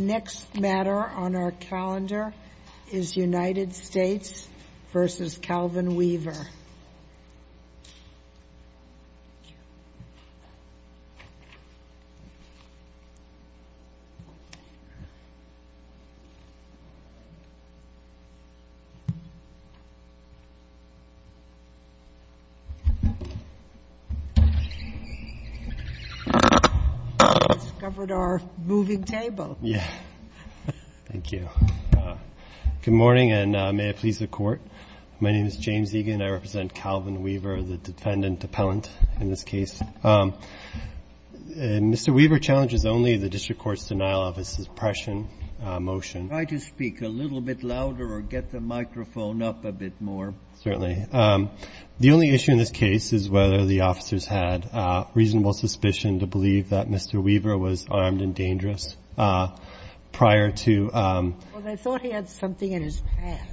The next matter on our calendar is United States v. Calvin Weaver. Thank you. Good morning, and may it please the Court. My name is James Egan. I represent Calvin Weaver, the defendant appellant in this case. Mr. Weaver challenges only the district court's denial of his suppression motion. Try to speak a little bit louder or get the microphone up a bit more. Certainly. The only issue in this case is whether the officers had reasonable suspicion to believe that Mr. Weaver was armed and dangerous. Well, they thought he had something in his pants.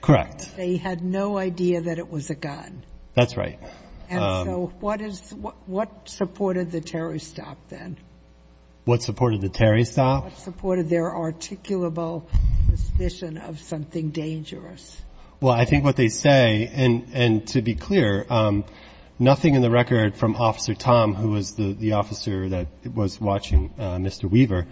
Correct. They had no idea that it was a gun. That's right. And so what supported the Terry stop then? What supported the Terry stop? What supported their articulable suspicion of something dangerous? Well, I think what they say, and to be clear, nothing in the record from Officer Tom, who was the officer that was watching Mr. Weaver.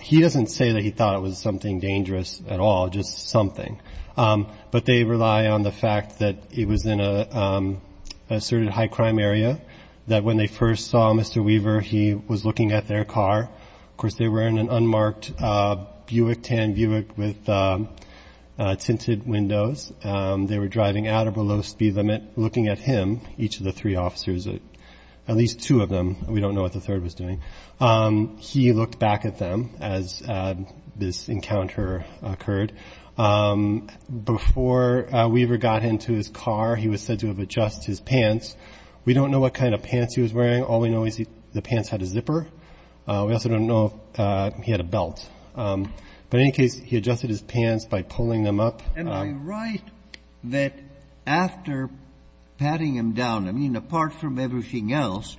He doesn't say that he thought it was something dangerous at all, just something. But they rely on the fact that it was in an asserted high-crime area, that when they first saw Mr. Weaver, he was looking at their car. Of course, they were in an unmarked Buick, tan Buick with tinted windows. They were driving at or below speed limit, looking at him, each of the three officers, at least two of them. We don't know what the third was doing. He looked back at them as this encounter occurred. Before Weaver got into his car, he was said to have adjusted his pants. We don't know what kind of pants he was wearing. All we know is the pants had a zipper. We also don't know if he had a belt. But in any case, he adjusted his pants by pulling them up. And they write that after patting him down, I mean, apart from everything else,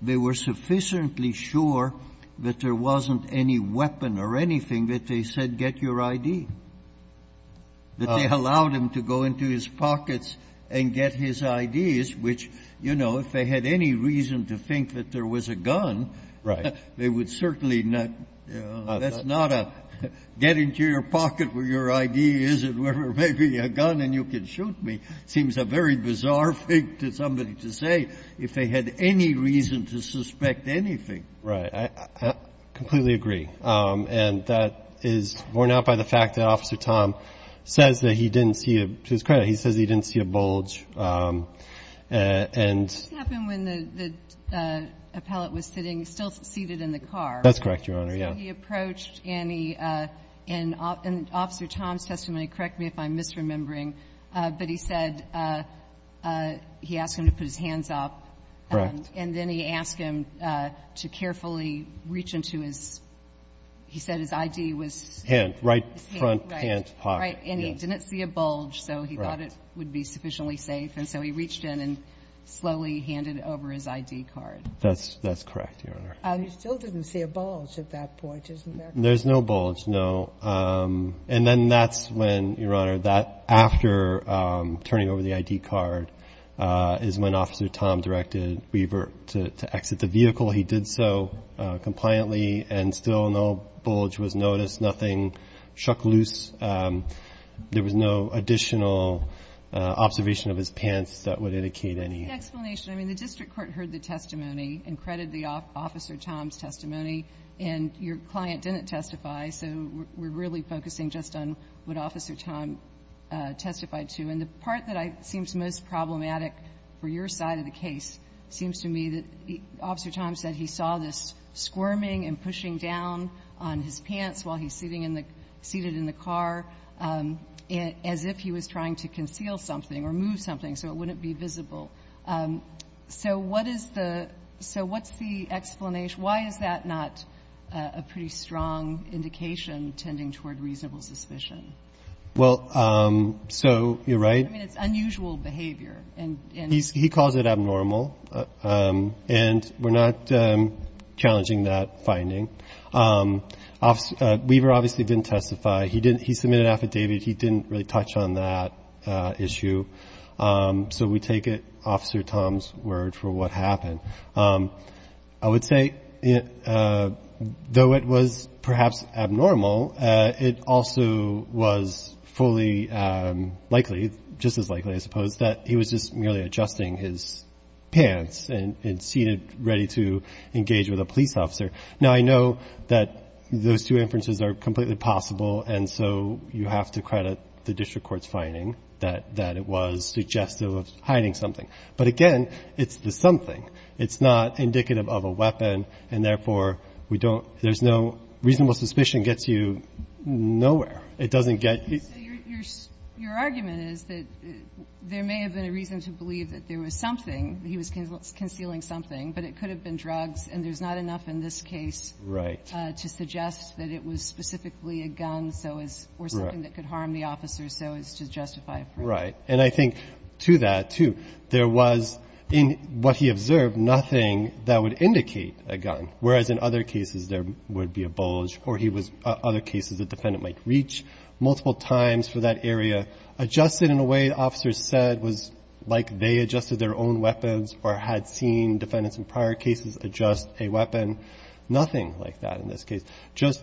they were sufficiently sure that there wasn't any weapon or anything that they said get your ID, that they allowed him to go into his pockets and get his IDs, which, you know, if they had any reason to think that there was a gun, they would certainly not, you know, that's not a get into your pocket where your ID is and where there may be a gun and you can shoot me. It seems a very bizarre thing to somebody to say if they had any reason to suspect anything. Right. I completely agree. And that is borne out by the fact that Officer Tom says that he didn't see a, to his credit, he says he didn't see a bulge. This happened when the appellate was sitting, still seated in the car. That's correct, Your Honor. So he approached and he, in Officer Tom's testimony, correct me if I'm misremembering, but he said, he asked him to put his hands up. Correct. And then he asked him to carefully reach into his, he said his ID was. Hand, right front hand pocket. And he didn't see a bulge. So he thought it would be sufficiently safe. And so he reached in and slowly handed over his ID card. That's, that's correct. Your Honor. He still didn't see a bulge at that point. There's no bulge. No. And then that's when Your Honor, that after turning over the ID card is when Officer Tom directed Weaver to exit the vehicle. He did so compliantly and still no bulge was noticed. Nothing shook loose. There was no additional observation of his pants that would indicate any. That's the explanation. I mean, the district court heard the testimony and credited Officer Tom's testimony. And your client didn't testify. So we're really focusing just on what Officer Tom testified to. And the part that seems most problematic for your side of the case seems to me that Officer Tom said he saw this squirming and pushing down on his pants while he's sitting in the, seated in the car as if he was trying to conceal something or move something so it wouldn't be visible. So what is the, so what's the explanation? Why is that not a pretty strong indication tending toward reasonable suspicion? Well, so you're right. I mean, it's unusual behavior. He calls it abnormal. And we're not challenging that finding. Weaver obviously didn't testify. He submitted an affidavit. He didn't really touch on that issue. So we take it Officer Tom's word for what happened. I would say though it was perhaps abnormal, it also was fully likely, just as likely, I suppose, that he was just merely adjusting his pants and seated ready to engage with a police officer. Now, I know that those two inferences are completely possible, and so you have to credit the district court's finding that it was suggestive of hiding something. But again, it's the something. It's not indicative of a weapon, and therefore we don't, there's no reasonable suspicion gets you nowhere. It doesn't get you. So your argument is that there may have been a reason to believe that there was something, he was concealing something, but it could have been drugs, and there's not enough in this case to suggest that it was specifically a gun or something that could harm the officer, so as to justify it. Right. And I think to that, too, there was, in what he observed, nothing that would indicate a gun, whereas in other cases there would be a bulge or he was, other cases, the defendant might reach multiple times for that area, adjusted in a way the officer said was like they adjusted their own weapons or had seen defendants in prior cases adjust a weapon. Nothing like that in this case. Just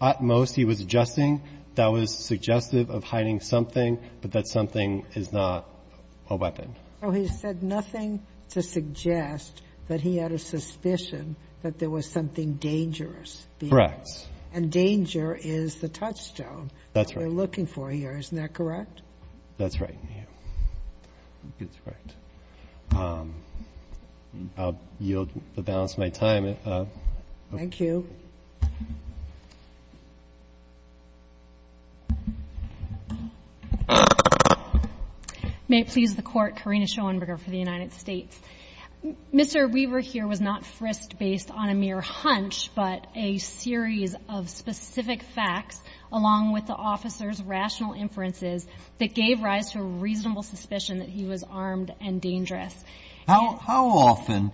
utmost he was adjusting. That was suggestive of hiding something, but that something is not a weapon. So he said nothing to suggest that he had a suspicion that there was something dangerous. Correct. And danger is the touchstone. That's right. We're looking for here. Isn't that correct? That's right. That's right. I'll yield the balance of my time. Thank you. May it please the Court. Karina Schoenberger for the United States. Mr. Weaver here was not frisked based on a mere hunch, but a series of specific facts along with the officer's rational inferences that gave rise to a reasonable suspicion that he was armed and dangerous. How often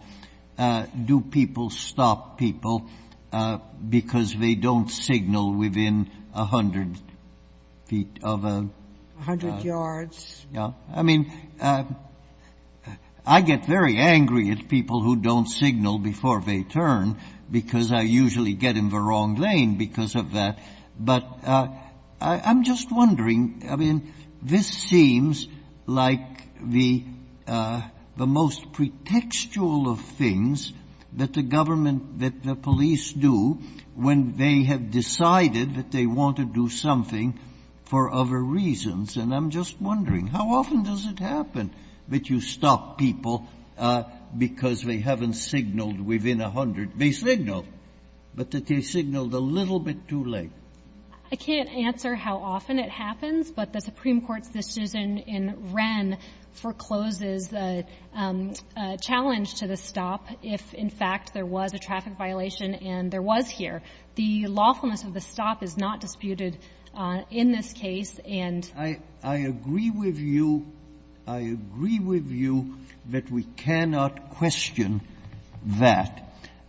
do people stop people because they don't signal within 100 feet of a ---- A hundred yards. Yeah. I mean, I get very angry at people who don't signal before they turn because I usually get in the wrong lane because of that, but I'm just wondering. I mean, this seems like the most pretextual of things that the government, that the police do when they have decided that they want to do something for other reasons. And I'm just wondering, how often does it happen that you stop people because they haven't signaled within a hundred? They signal, but that they signaled a little bit too late. I can't answer how often it happens, but the Supreme Court's decision in Wren forecloses a challenge to the stop if, in fact, there was a traffic violation and there was here. The lawfulness of the stop is not disputed in this case, and ---- I agree with you. I agree with you that we cannot question that.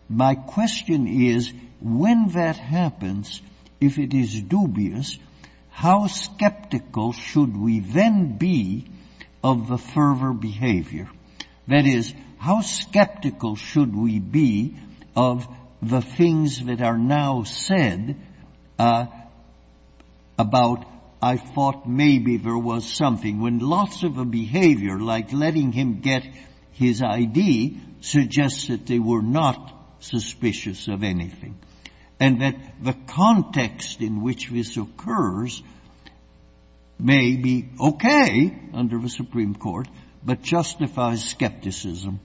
My question is, when that happens, if it is dubious, how skeptical should we then be of the fervor behavior? That is, how skeptical should we be of the things that are now said about, I thought maybe there was something, when lots of the behavior, like letting him get his ID, suggests that they were not suspicious of anything, and that the context in which this occurs may be okay under the Supreme Court, but justifies skepticism?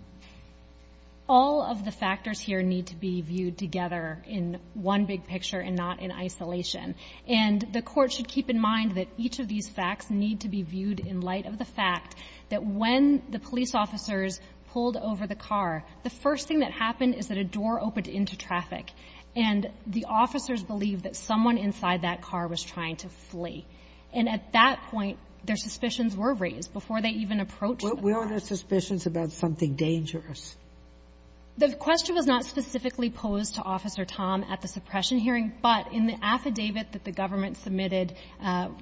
All of the factors here need to be viewed together in one big picture and not in isolation. And the Court should keep in mind that each of these facts need to be viewed in light of the fact that when the police officers pulled over the car, the first thing that happened is that a door opened into traffic, and the officers believed that someone inside that car was trying to flee. And at that point, their suspicions were raised before they even approached the car. What were their suspicions about something dangerous? The question was not specifically posed to Officer Tom at the suppression hearing, but in the affidavit that the government submitted,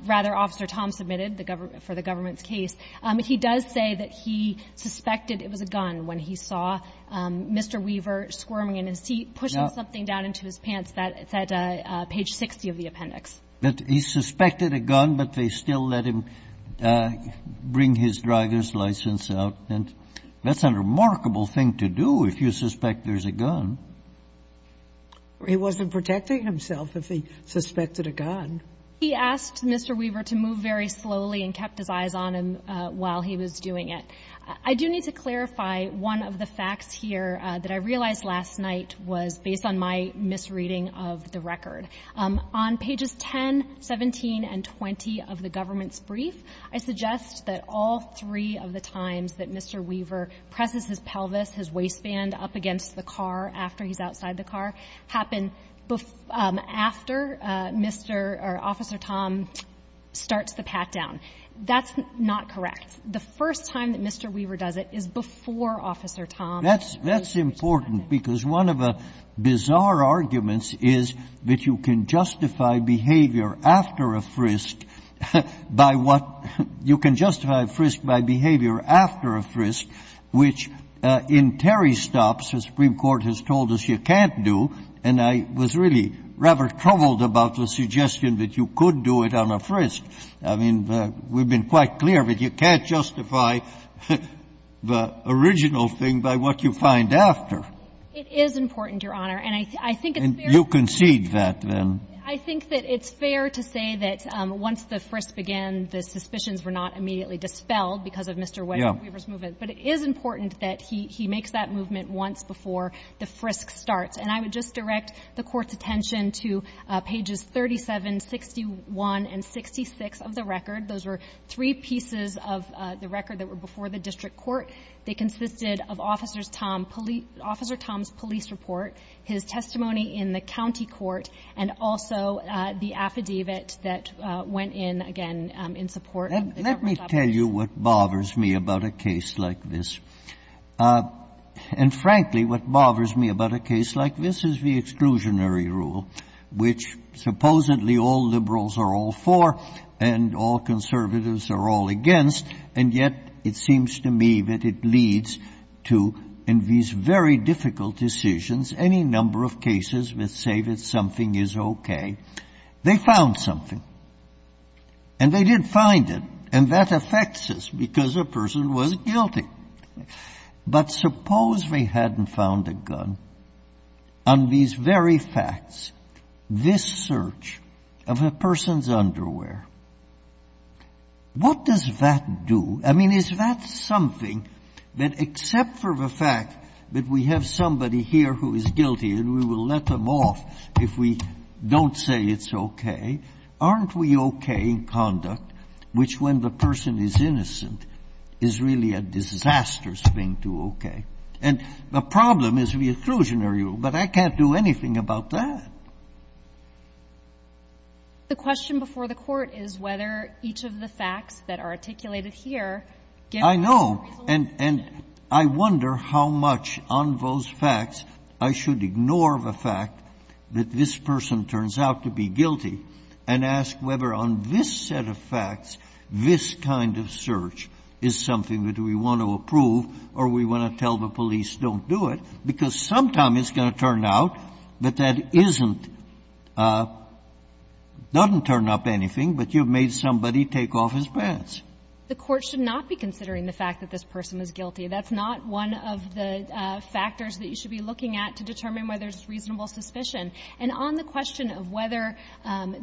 rather Officer Tom submitted for the government's case, he does say that he suspected it was a gun when he saw Mr. Weaver squirming in his seat, pushing something down into his pants. That's at page 60 of the appendix. But he suspected a gun, but they still let him bring his driver's license out. And that's a remarkable thing to do if you suspect there's a gun. He wasn't protecting himself if he suspected a gun. He asked Mr. Weaver to move very slowly and kept his eyes on him while he was doing it. I do need to clarify one of the facts here that I realized last night was based on my misreading of the record. On pages 10, 17, and 20 of the government's brief, I suggest that all three of the car happen after Mr. or Officer Tom starts the pat-down. That's not correct. The first time that Mr. Weaver does it is before Officer Tom. That's important because one of the bizarre arguments is that you can justify behavior after a frisk by what you can justify a frisk by behavior after a frisk, which in Terry stops, the Supreme Court has told us you can't do, and I was really rather troubled about the suggestion that you could do it on a frisk. I mean, we've been quite clear that you can't justify the original thing by what you find after. It is important, Your Honor, and I think it's fair to say that once the frisk began, the suspicions were not immediately dispelled because of Mr. Weaver's movement. But it is important that he makes that movement once before the frisk starts. And I would just direct the Court's attention to pages 37, 61, and 66 of the record. Those were three pieces of the record that were before the district court. They consisted of Officer Tom's police report, his testimony in the county court, and also the affidavit that went in, again, in support of the government. I can't tell you what bothers me about a case like this. And frankly, what bothers me about a case like this is the exclusionary rule, which supposedly all liberals are all for and all conservatives are all against, and yet it seems to me that it leads to, in these very difficult decisions, any number of cases that say that something is okay. They found something. And they did find it. And that affects us because a person was guilty. But suppose they hadn't found a gun on these very facts, this search of a person's underwear. What does that do? I mean, is that something that, except for the fact that we have somebody here who is guilty and we will let them off if we don't say it's okay, aren't we okay in conduct, which, when the person is innocent, is really a disastrous thing to okay? And the problem is the exclusionary rule, but I can't do anything about that. The question before the Court is whether each of the facts that are articulated here give a reasonable reason. And I wonder how much on those facts I should ignore the fact that this person turns out to be guilty and ask whether on this set of facts this kind of search is something that we want to approve or we want to tell the police don't do it, because sometimes it's going to turn out that that isn't — doesn't turn up anything, but you've made somebody take off his pants. The Court should not be considering the fact that this person is guilty. That's not one of the factors that you should be looking at to determine whether there's reasonable suspicion. And on the question of whether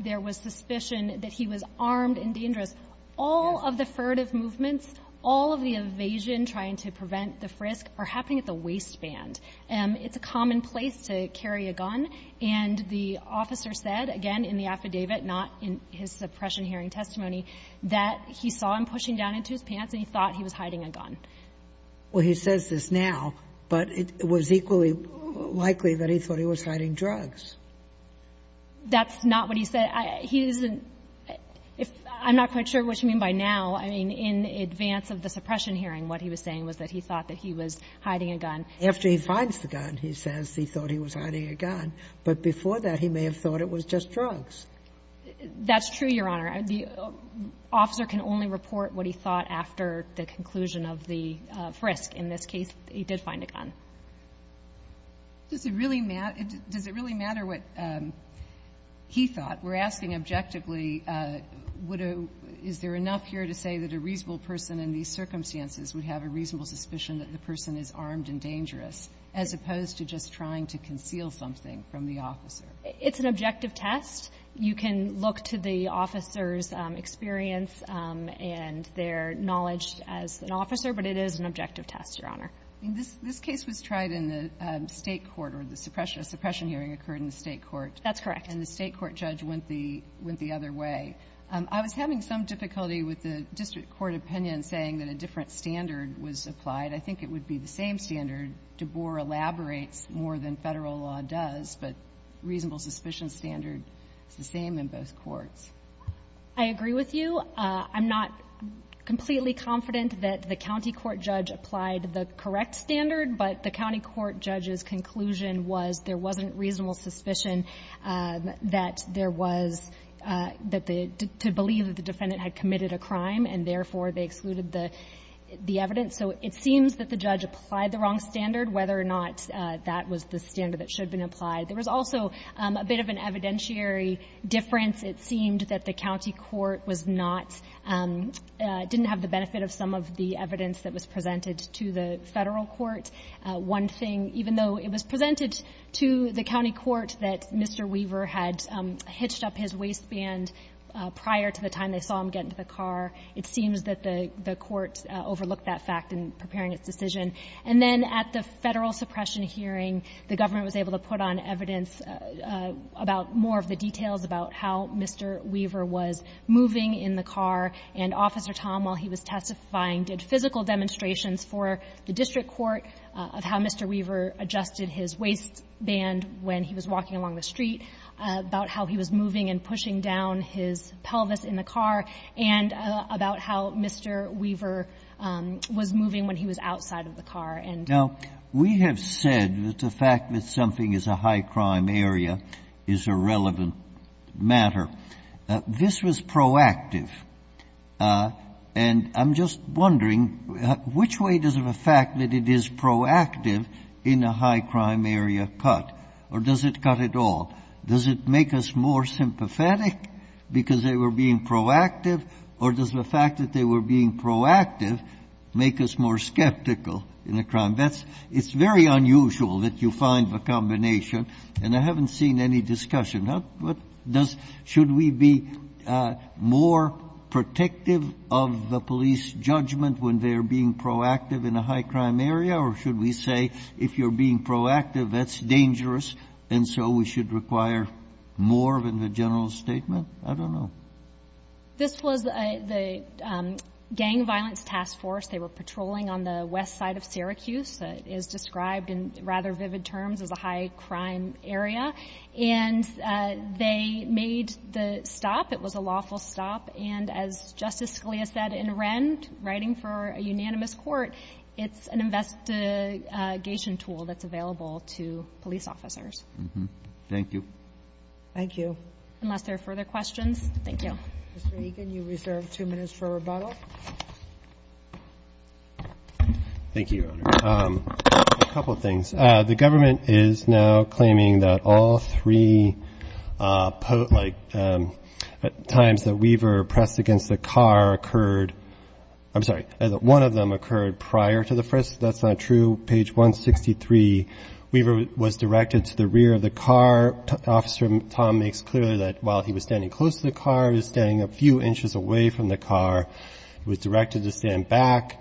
there was suspicion that he was armed and dangerous, all of the furtive movements, all of the evasion trying to prevent the frisk are happening at the waistband. It's a common place to carry a gun, and the officer said, again, in the affidavit, not in his suppression hearing testimony, that he saw him pushing down into his pants and he thought he was hiding a gun. Well, he says this now, but it was equally likely that he thought he was hiding drugs. That's not what he said. He isn't — I'm not quite sure what you mean by now. I mean, in advance of the suppression hearing, what he was saying was that he thought that he was hiding a gun. After he finds the gun, he says he thought he was hiding a gun. But before that, he may have thought it was just drugs. That's true, Your Honor. The officer can only report what he thought after the conclusion of the frisk. In this case, he did find a gun. Does it really matter — does it really matter what he thought? We're asking objectively, would a — is there enough here to say that a reasonable person in these circumstances would have a reasonable suspicion that the person is armed and dangerous, as opposed to just trying to conceal something from the officer? It's an objective test. You can look to the officer's experience and their knowledge as an officer, but it is an objective test, Your Honor. This case was tried in the State court, or the suppression hearing occurred in the State court. That's correct. And the State court judge went the other way. I was having some difficulty with the district court opinion saying that a different standard was applied. I think it would be the same standard. DeBoer elaborates more than Federal law does, but reasonable suspicion standard is the same in both courts. I agree with you. I'm not completely confident that the county court judge applied the correct standard, but the county court judge's conclusion was there wasn't reasonable suspicion that there was — that the — to believe that the defendant had committed a crime, and therefore, they excluded the evidence. So it seems that the judge applied the wrong standard, whether or not that was the standard that should have been applied. There was also a bit of an evidentiary difference. It seemed that the county court was not — didn't have the benefit of some of the evidence that was presented to the Federal court. One thing, even though it was presented to the county court that Mr. Weaver had hitched up his waistband prior to the time they saw him get into the car, it seems that the county court judge didn't have the benefit of some of the evidence that was presented to the Federal court that he had hitched up his waistband prior to the time they saw him get into the car, and therefore, they excluded the evidence that Mr. Weaver had hitched up his waistband prior to the time they saw him get into the car. And so I think that the county court judge's conclusion was that the county court judge was moving when he was outside of the car, and — Now, we have said that the fact that something is a high-crime area is a relevant matter. This was proactive. And I'm just wondering, which way does the fact that it is proactive in a high-crime area cut, or does it cut it all? Does it make us more sympathetic because they were being proactive, or does the fact that they were being proactive make us more skeptical in a crime? That's — it's very unusual that you find a combination, and I haven't seen any discussion. What does — should we be more protective of the police judgment when they are being proactive in a high-crime area, or should we say, if you're being proactive, that's dangerous, and so we should require more than the general statement? I don't know. This was the Gang Violence Task Force. They were patrolling on the west side of Syracuse. It is described in rather vivid terms as a high-crime area. And they made the stop. It was a lawful stop. And as Justice Scalia said in Wren, writing for a unanimous court, it's an investigation tool that's available to police officers. Thank you. Thank you. Unless there are further questions. Thank you. Mr. Egan, you reserve two minutes for rebuttal. Thank you, Your Honor. A couple of things. The government is now claiming that all three, like, times that Weaver pressed against the car occurred — I'm sorry — that one of them occurred prior to the first. That's not true. Page 163, Weaver was directed to the rear of the car. Officer Tom makes clear that while he was standing close to the car, he was standing a few inches away from the car. He was directed to stand back.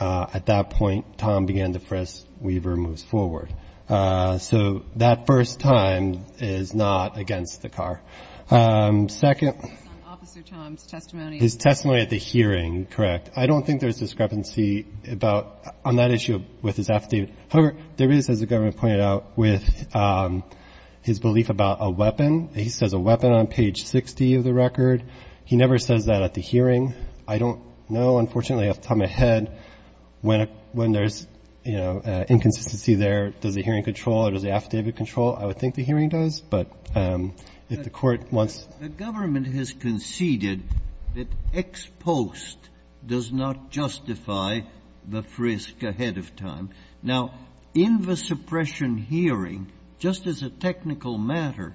At that point, Tom began to press. Weaver moves forward. So that first time is not against the car. Second — It's based on Officer Tom's testimony. His testimony at the hearing, correct. I don't think there's discrepancy about — on that issue with his affidavit. However, there is, as the government pointed out, with his belief about a weapon. He says a weapon on page 60 of the record. He never says that at the hearing. I don't know. Unfortunately, at the time ahead, when there's, you know, inconsistency there, does the hearing control or does the affidavit control? I would think the hearing does, but if the Court wants — The government has conceded that ex post does not justify the frisk ahead of time. Now, in the suppression hearing, just as a technical matter,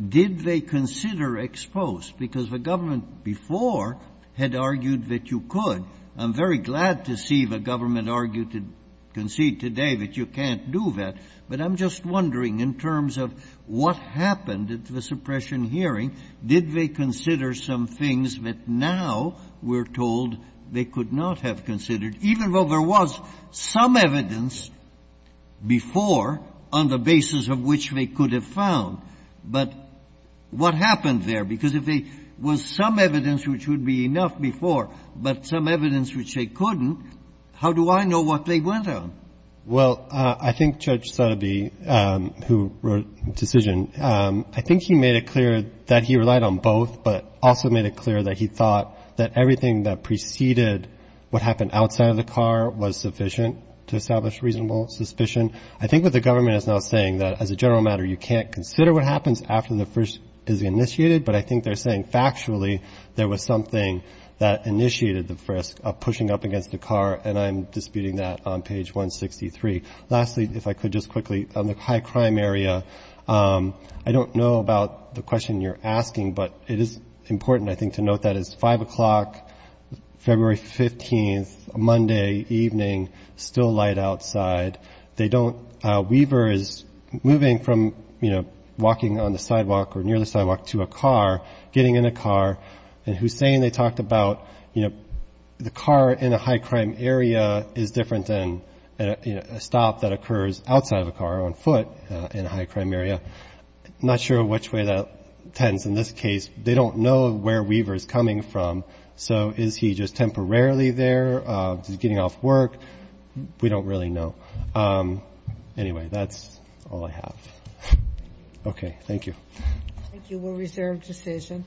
did they consider ex post, because the government before had argued that you could. I'm very glad to see the government argued to concede today that you can't do that. But I'm just wondering, in terms of what happened at the suppression hearing, did they consider some things that now we're told they could not have considered, even though there was some evidence before on the basis of which they could have found? But what happened there? Because if there was some evidence which would be enough before, but some evidence which they couldn't, how do I know what they went on? Well, I think Judge Sotobe, who wrote the decision, I think he made it clear that he relied on both, but also made it clear that he thought that everything that preceded what happened outside of the car was sufficient to establish reasonable suspicion. I think what the government is now saying that, as a general matter, you can't consider what happens after the frisk is initiated. But I think they're saying, factually, there was something that initiated the frisk of pushing up against the car, and I'm disputing that on page 163. Lastly, if I could just quickly, on the high crime area, I don't know about the question you're asking, but it is important, I think, to note that it's 5 o'clock, February 15th, Monday evening, still light outside. Weaver is moving from walking on the sidewalk or near the sidewalk to a car, getting in a car, and Hussein, they talked about the car in a high crime area is different than a stop that occurs outside of a car on foot in a high crime area. Not sure which way that tends. In this case, they don't know where Weaver is coming from. So is he just temporarily there? Is he getting off work? We don't really know. Anyway, that's all I have. Okay, thank you. Thank you. We'll reserve decision.